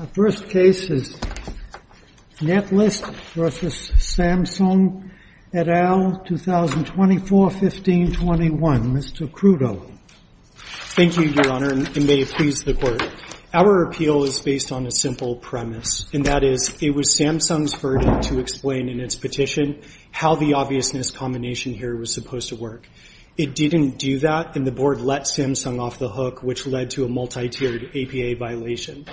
The first case is Netlist v. Samsung et al., 2024-1521. Mr. Crudo. Thank you, Your Honor, and may it please the Court. Our appeal is based on a simple premise, and that is it was Samsung's verdict to explain in its petition how the obviousness combination here was supposed to work. It didn't do that, and the board let Samsung off the hook, which led to a multi-tiered APA violation.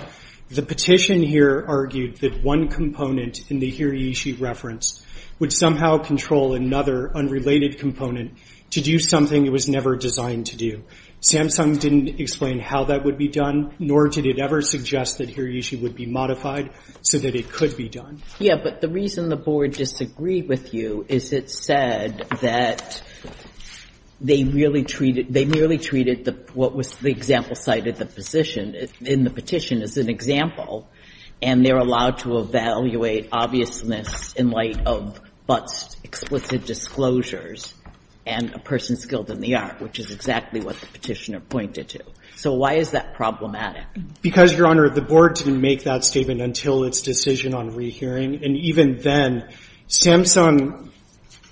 The petition here argued that one component in the Hirayoshi reference would somehow control another unrelated component to do something it was never designed to do. Samsung didn't explain how that would be done, nor did it ever suggest that Hirayoshi would be modified so that it could be done. Yeah, but the reason the board disagreed with you is it said that they merely treated what was the example cited in the petition as an example, and they're allowed to evaluate obviousness in light of Butts' explicit disclosures and a person skilled in the art, which is exactly what the petitioner pointed to. So why is that problematic? Because, Your Honor, the board didn't make that statement until its decision on rehearing. And even then, Samsung,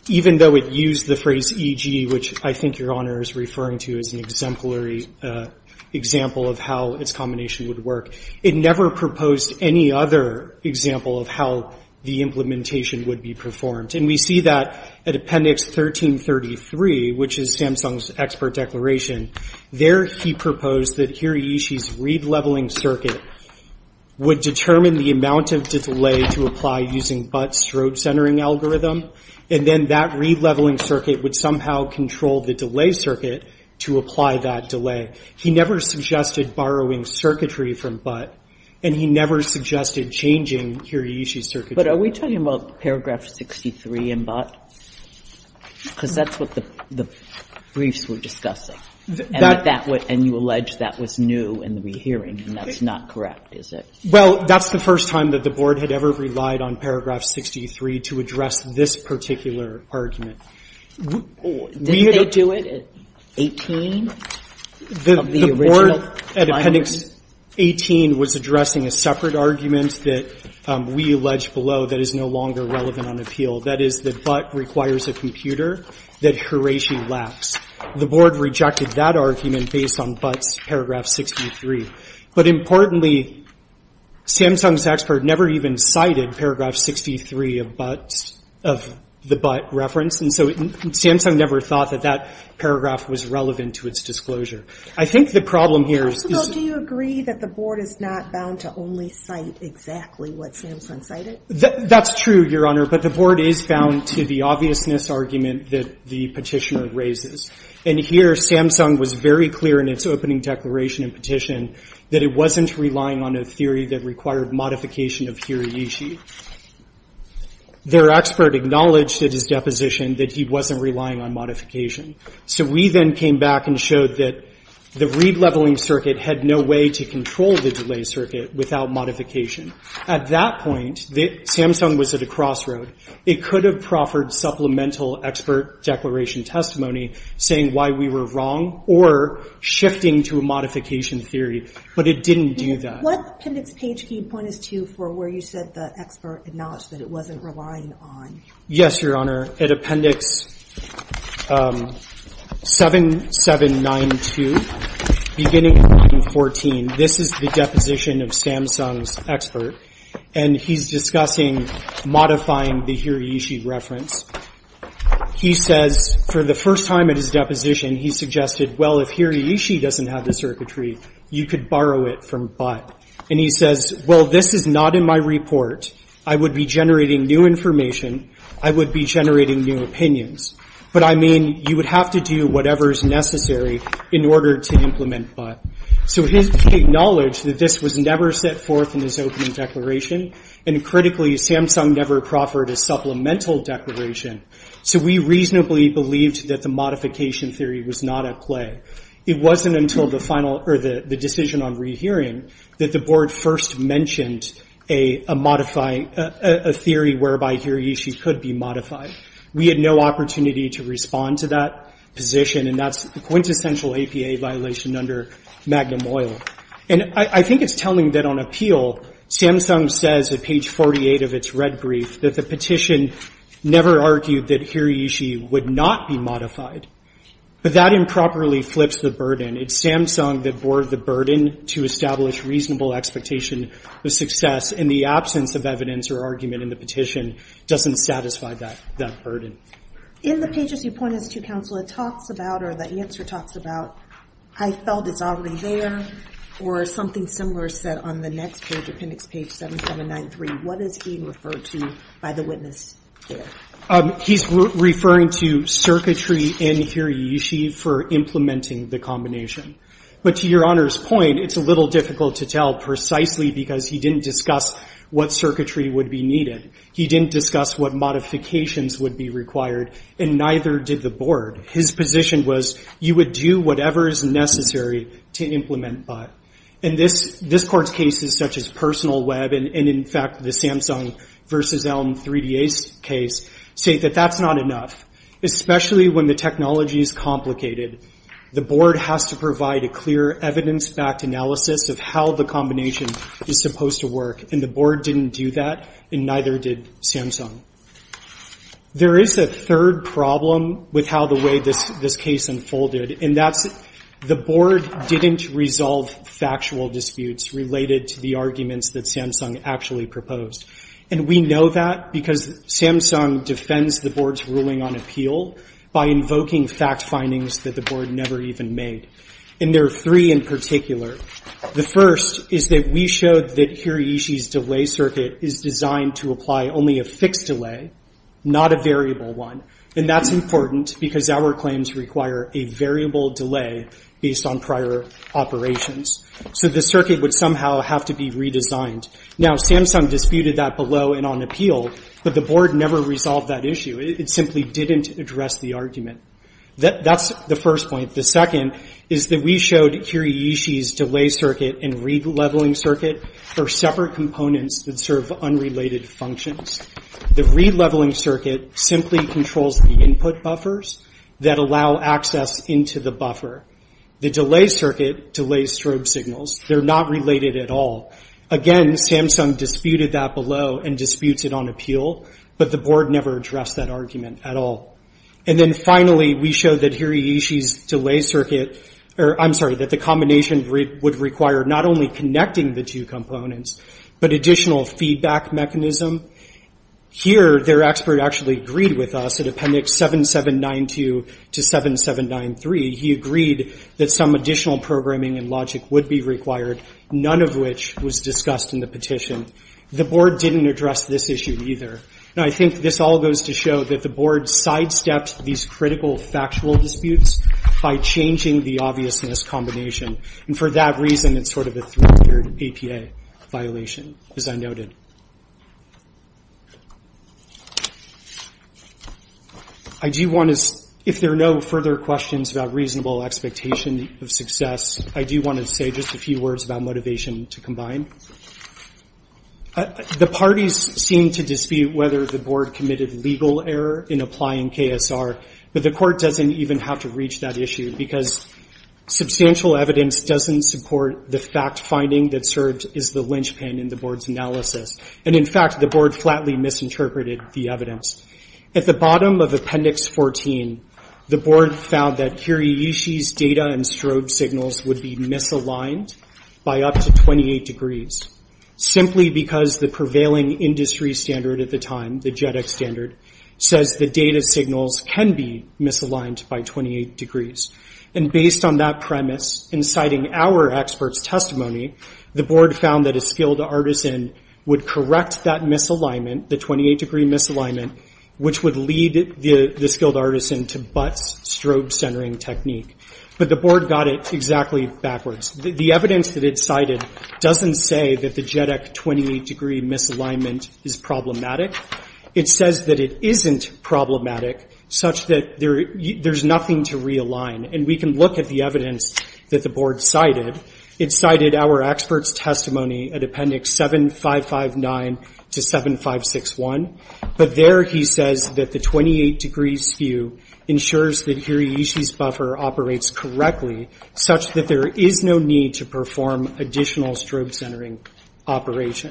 even though it used the phrase E.G., which I think Your Honor is referring to as an exemplary example of how its combination would work, it never proposed any other example of how the implementation would be performed. And we see that at Appendix 1333, which is Samsung's expert declaration. There he proposed that Hirayoshi's read leveling circuit would determine the amount of delay to apply using Butts' road centering algorithm, and then that read leveling circuit would somehow control the delay circuit to apply that delay. He never suggested borrowing circuitry from Butts, and he never suggested changing Hirayoshi's circuitry. But are we talking about paragraph 63 in Butts? Because that's what the briefs were discussing. And you allege that was new in the rehearing, and that's not correct, is it? Well, that's the first time that the board had ever relied on paragraph 63 to address this particular argument. Did they do it at 18, of the original? The board at Appendix 18 was addressing a separate argument that we allege below that is no longer relevant on appeal. That is that Butt requires a computer that Hirayoshi lacks. The board rejected that argument based on Butts' paragraph 63. But importantly, Samsung's expert never even cited paragraph 63 of Butts, of the Butt reference, and so Samsung never thought that that paragraph was relevant to its disclosure. I think the problem here is this. Counsel, do you agree that the board is not bound to only cite exactly what Samsung cited? That's true, Your Honor, but the board is bound to the obviousness argument that the petitioner raises. And here, Samsung was very clear in its opening declaration and petition that it wasn't relying on a theory that required modification of Hirayoshi. Their expert acknowledged at his deposition that he wasn't relying on modification. So we then came back and showed that the read leveling circuit had no way to control the delay circuit without modification. At that point, Samsung was at a crossroad. It could have proffered supplemental expert declaration testimony saying why we were wrong or shifting to a modification theory, but it didn't do that. What appendix page can you point us to for where you said the expert acknowledged that it wasn't relying on? Yes, Your Honor. At appendix 7792, beginning 14, this is the deposition of Samsung's expert, and he's discussing modifying the Hirayoshi reference. He says, for the first time at his deposition, he suggested, well, if Hirayoshi doesn't have the circuitry, you could borrow it from Butt. And he says, well, this is not in my report. I would be generating new information. I would be generating new opinions. But I mean, you would have to do whatever is necessary in order to implement Butt. So his acknowledged that this was never set forth in his opening declaration, and critically, Samsung never proffered a supplemental declaration. So we reasonably believed that the modification theory was not at play. It wasn't until the decision on rehearing that the board first mentioned a theory whereby Hirayoshi could be modified. We had no opportunity to respond to that position, and that's a quintessential APA violation under Magnum Oil. And I think it's telling that on appeal, Samsung says at page 48 of its red brief that the petition never argued that Hirayoshi would not be modified. But that improperly flips the burden. It's Samsung that bore the burden to establish reasonable expectation of success, and the absence of evidence or argument in the petition doesn't satisfy that burden. In the pages you pointed to, counsel, it talks about, or the answer talks about, I felt it's already there, or something similar said on the next page, appendix page 7793. What is being referred to by the witness there? He's referring to circuitry in Hirayoshi for implementing the combination. But to your honor's point, it's a little difficult to tell precisely because he didn't discuss what circuitry would be needed. He didn't discuss what modifications would be required, and neither did the board. His position was you would do whatever is necessary to implement but. And this court's cases, such as personal web, and in fact, the Samsung versus Elm 3DA case, say that that's not enough, especially when the technology is complicated. The board has to provide a clear evidence-backed analysis of how the combination is supposed to work, and the board didn't do that, and neither did Samsung. There is a third problem with how the way this case unfolded, and that's the board didn't resolve factual disputes related to the arguments that Samsung actually proposed. And we know that because Samsung defends the board's ruling on appeal by invoking fact findings that the board never even made. And there are three in particular. The first is that we showed that Hirayoshi's delay circuit is designed to apply only a fixed delay, not a variable one, and that's important because our claims require a variable delay based on prior operations. So the circuit would somehow have to be redesigned. Now, Samsung disputed that below and on appeal, but the board never resolved that issue. It simply didn't address the argument. That's the first point. The second is that we showed Hirayoshi's delay circuit and re-leveling circuit are separate components that serve unrelated functions. The re-leveling circuit simply controls the input buffers that allow access into the buffer. The delay circuit delays strobe signals. They're not related at all. Again, Samsung disputed that below and disputes it on appeal, but the board never addressed that argument at all. And then finally, we showed that Hirayoshi's delay circuit, or I'm sorry, that the combination would require not only connecting the two components, but additional feedback mechanism. Here, their expert actually agreed with us at appendix 7792 to 7793. He agreed that some additional programming and logic would be required, none of which was discussed in the petition. The board didn't address this issue either. And I think this all goes to show that the board sidestepped these critical factual disputes by changing the obviousness combination. And for that reason, it's sort of a three-tiered APA violation, as I noted. If there are no further questions about reasonable expectation of success, I do want to say just a few words about motivation to combine. The parties seem to dispute whether the board committed legal error in applying KSR, but the court doesn't even have to reach that issue because substantial evidence doesn't support the fact-finding that served as the linchpin in the board's analysis. And in fact, the board flatly misinterpreted the evidence. At the bottom of appendix 14, the board found that Hirayoshi's data and strobe signals would be misaligned by up to 28 degrees. Simply because the prevailing industry standard at the time, the JEDEC standard, says the data signals can be misaligned by 28 degrees. And based on that premise, inciting our experts' testimony, the board found that a skilled artisan would correct that misalignment, the 28-degree misalignment, which would lead the skilled artisan to butt strobe-centering technique. But the board got it exactly backwards. The evidence that it cited doesn't say that the JEDEC 28-degree misalignment is problematic. It says that it isn't problematic, such that there's nothing to realign. And we can look at the evidence that the board cited. It cited our experts' testimony at appendix 7559 to 7561. But there he says that the 28-degree skew ensures that Hirayoshi's buffer operates correctly, such that there is no need to perform additional strobe-centering operation.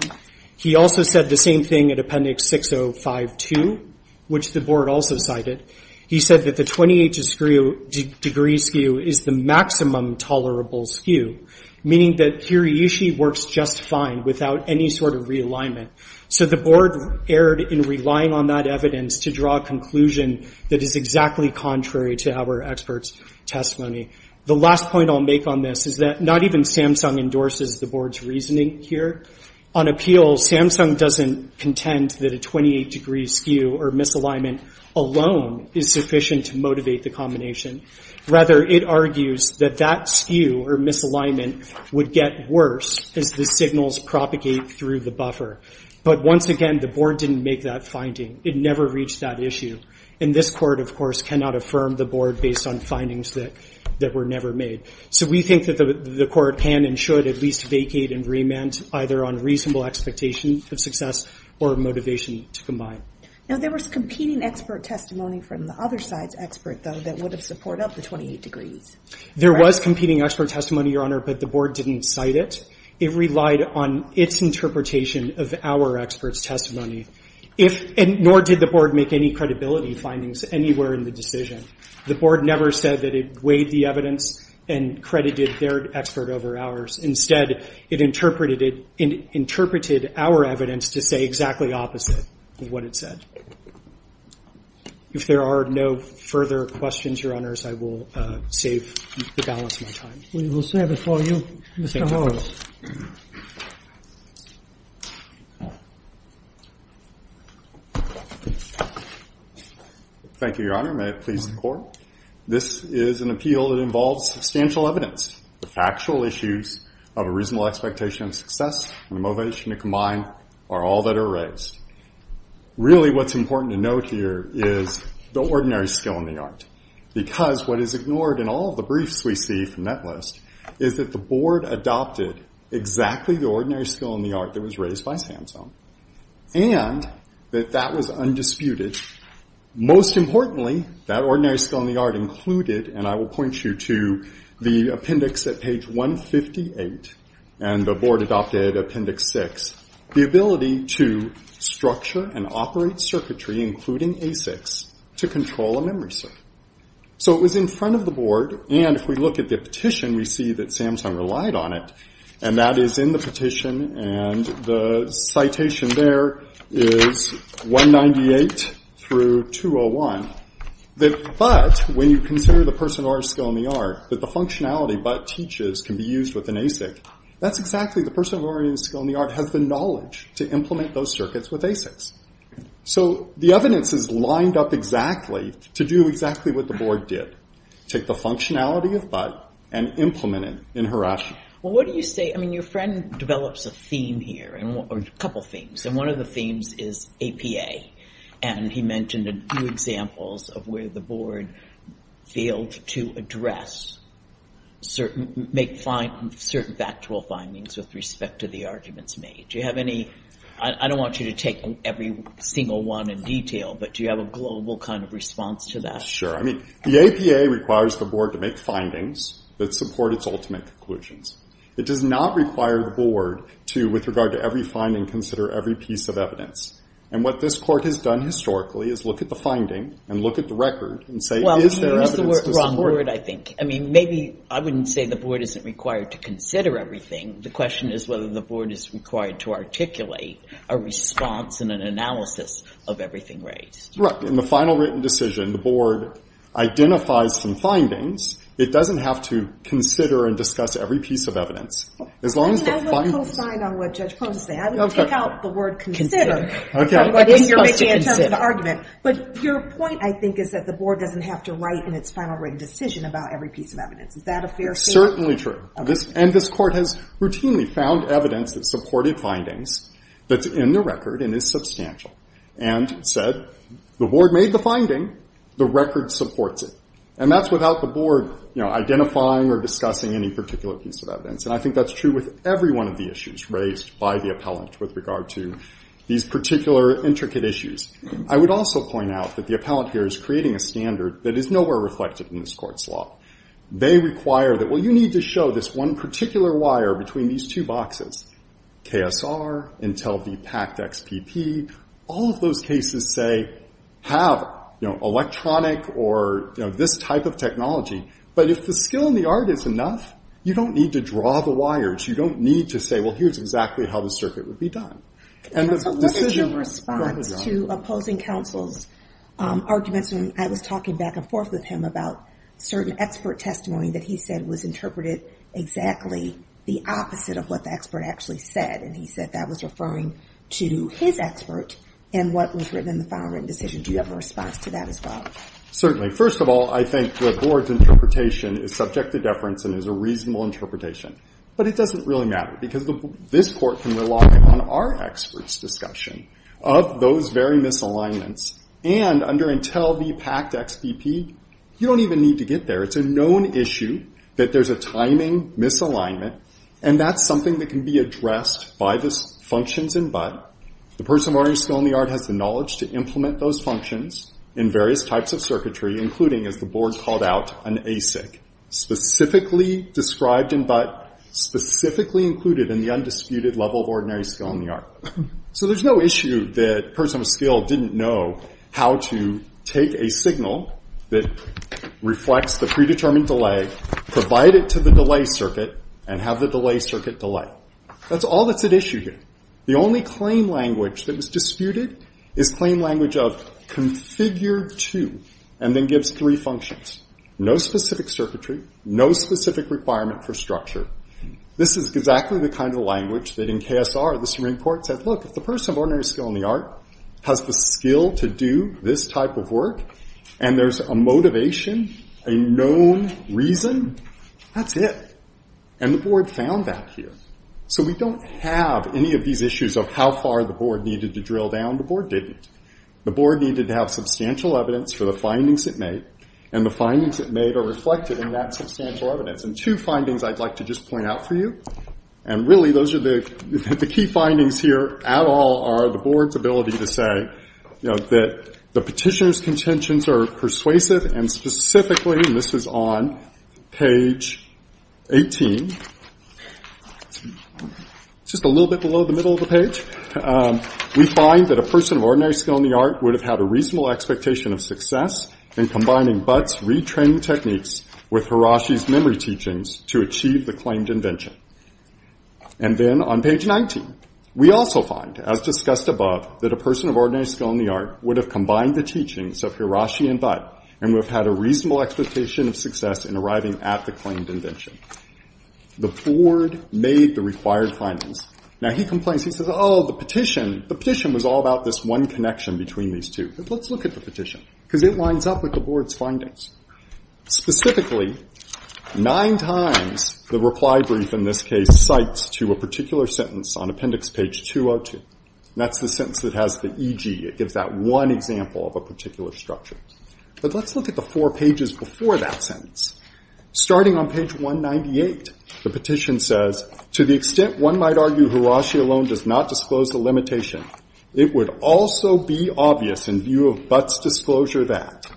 He also said the same thing at appendix 6052, which the board also cited. He said that the 28-degree skew is the maximum tolerable skew, meaning that Hirayoshi works just fine without any sort of realignment. So the board erred in relying on that evidence to draw a conclusion that is exactly contrary to our experts' testimony. The last point I'll make on this is that not even Samsung endorses the board's reasoning here. On appeal, Samsung doesn't contend that a 28-degree skew or misalignment alone is sufficient to motivate the combination. Rather, it argues that that skew or misalignment would get worse as the signals propagate through the buffer. But once again, the board didn't make that finding. It never reached that issue. And this court, of course, cannot affirm the board based on findings that were never made. So we think that the court can and should at least vacate and remand either on reasonable expectations of success or motivation to combine. Now, there was competing expert testimony from the other side's expert, though, that would have support up the 28 degrees. There was competing expert testimony, Your Honor, but the board didn't cite it. It relied on its interpretation of our experts' testimony, nor did the board make any credibility findings anywhere in the decision. The board never said that it weighed the evidence and credited their expert over ours. Instead, it interpreted our evidence to say exactly opposite of what it said. If there are no further questions, Your Honors, I will save the balance of my time. We will serve it for you, Mr. Holmes. Thank you, Your Honor. May it please the court. This is an appeal that involves substantial evidence. The factual issues of a reasonable expectation of success and motivation to combine are all that are raised. Really, what's important to note here is the ordinary skill in the art because what is ignored in all of the briefs we see from that list is that the board adopted exactly the ordinary skill in the art that was raised by Samson, and that that was undisputed. Most importantly, that ordinary skill in the art included, and I will point you to the appendix at page 158, and the board adopted appendix six, the ability to structure and operate circuitry, including ASICs, to control a memory circuit. So it was in front of the board, and if we look at the petition, we see that Samson relied on it, and that is in the petition, and the citation there is 198, through 201, that but, when you consider the person of ordinary skill in the art, that the functionality but teaches can be used with an ASIC, that's exactly the person of ordinary skill in the art has the knowledge to implement those circuits with ASICs. So the evidence is lined up exactly to do exactly what the board did, take the functionality of but, and implement it in Harashi. Well, what do you say, I mean, your friend develops a theme here, and a couple themes, and one of the themes is APA, and he mentioned a few examples of where the board failed to address certain factual findings with respect to the arguments made. Do you have any, I don't want you to take every single one in detail, but do you have a global kind of response to that? Sure, I mean, the APA requires the board to make findings that support its ultimate conclusions. It does not require the board to, with regard to every finding, consider every piece of evidence, and what this court has done historically is look at the finding, and look at the record, and say, is there evidence to support it? Well, you used the wrong word, I think. I mean, maybe, I wouldn't say the board isn't required to consider everything. The question is whether the board is required to articulate a response and an analysis of everything raised. Correct, in the final written decision, the board identifies some findings. It doesn't have to consider and discuss every piece of evidence. As long as the final- I mean, I would co-sign on what Judge Pone said. Okay. Without the word consider. I think you're making a term of argument. But your point, I think, is that the board doesn't have to write in its final written decision about every piece of evidence. Is that a fair statement? It's certainly true. And this court has routinely found evidence that supported findings that's in the record and is substantial, and said, the board made the finding, the record supports it. And that's without the board identifying or discussing any particular piece of evidence. And I think that's true with every one of the issues raised by the appellant with regard to these particular intricate issues. I would also point out that the appellant here is creating a standard that is nowhere reflected in this court's law. They require that, well, you need to show this one particular wire between these two boxes. KSR, Intel v. PACT XPP, all of those cases say, have electronic or this type of technology. But if the skill and the art is enough, you don't need to draw the wires. You don't need to say, well, here's exactly how the circuit would be done. And the decision- So what is your response to opposing counsel's arguments? And I was talking back and forth with him about certain expert testimony that he said was interpreted exactly the opposite of what the expert actually said. And he said that was referring to his expert and what was written in the final written decision. Do you have a response to that as well? Certainly. First of all, I think the board's interpretation is subject to deference and is a reasonable interpretation. But it doesn't really matter because this court can rely on our experts' discussion of those very misalignments. And under Intel v. PACT XPP, you don't even need to get there. It's a known issue that there's a timing misalignment. And that's something that can be addressed by the functions in BUT. The person of learning skill and the art has the knowledge to implement those functions in various types of circuitry, including, as the board called out, an ASIC. Specifically described in BUT, specifically included in the undisputed level of ordinary skill and the art. So there's no issue that a person of skill didn't know how to take a signal that reflects the predetermined delay, provide it to the delay circuit, and have the delay circuit delay. That's all that's at issue here. The only claim language that was disputed is claim language of configure two and then gives three functions. No specific circuitry, no specific requirement for structure. This is exactly the kind of language that in KSR the Supreme Court said, look, if the person of ordinary skill and the art has the skill to do this type of work and there's a motivation, a known reason, that's it. And the board found that here. So we don't have any of these issues of how far the board needed to drill down. The board didn't. The board needed to have substantial evidence for the findings it made, and the findings it made are reflected in that substantial evidence. And two findings I'd like to just point out for you, and really those are the key findings here at all are the board's ability to say that the petitioner's contentions are persuasive and specifically, and this is on page 18, just a little bit below the middle of the page, we find that a person of ordinary skill and the art would have had a reasonable expectation of success in combining Butt's retraining techniques with Hiroshi's memory teachings to achieve the claimed invention. And then on page 19, we also find, as discussed above, that a person of ordinary skill and the art would have combined the teachings of Hiroshi and Butt and would have had a reasonable expectation of success in arriving at the claimed invention. The board made the required findings. Now he complains, he says, oh, the petition, the petition was all about this one connection between these two. Let's look at the petition, because it lines up with the board's findings. Specifically, nine times the reply brief in this case cites to a particular sentence on appendix page 202. That's the sentence that has the EG. It gives that one example of a particular structure. But let's look at the four pages before that sentence. Starting on page 198, the petition says, to the extent one might argue Hiroshi alone does not disclose the limitation, it would also be obvious in view of Butt's disclosure that.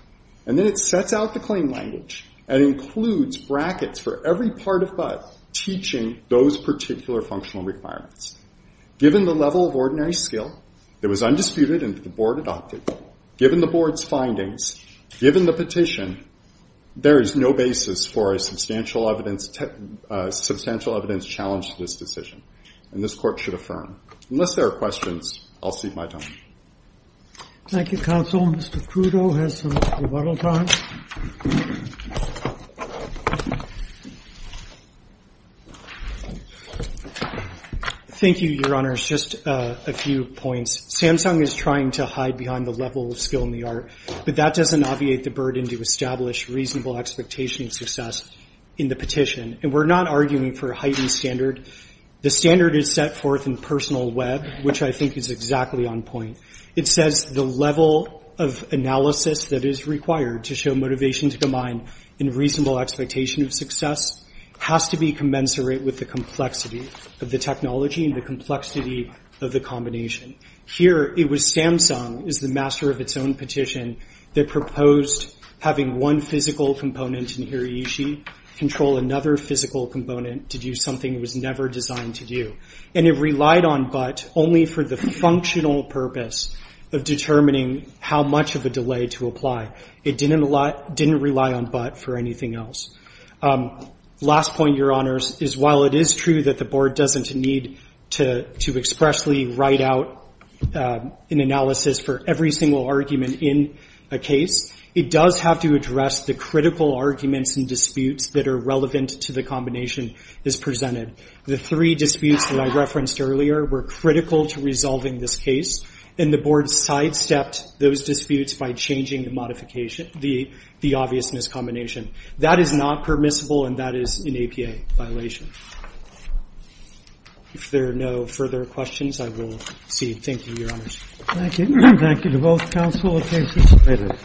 And then it sets out the claim language and includes brackets for every part of Butt teaching those particular functional requirements. Given the level of ordinary skill, it was undisputed and the board adopted. Given the board's findings, given the petition, there is no basis for a substantial evidence challenge to this decision, and this court should affirm. Unless there are questions, I'll cede my time. Thank you, counsel. Mr. Crudo has some rebuttal time. Thank you, your honors. Just a few points. Samsung is trying to hide behind the level of skill in the art, but that doesn't obviate the burden to establish reasonable expectation of success in the petition. And we're not arguing for a heightened standard. The standard is set forth in personal web, which I think is exactly on point. It says the level of analysis that is required to show motivation to combine in reasonable expectation of success has to be commensurate with the complexity of the technology and the complexity of the combination. Here, it was Samsung, as the master of its own petition, that proposed having one physical component in hirayoshi control another physical component to do something it was never designed to do. And it relied on but only for the functional purpose of determining how much of a delay to apply. It didn't rely on but for anything else. Last point, your honors, is while it is true that the board doesn't need to expressly write out an analysis for every single argument in a case, it does have to address the critical arguments and disputes that are relevant to the combination as presented. The three disputes that I referenced earlier were critical to resolving this case, and the board sidestepped those disputes by changing the modification, the obviousness combination. That is not permissible, and that is an APA violation. If there are no further questions, I will cede. Thank you, your honors. Thank you. Thank you to both counsel. The case is submitted.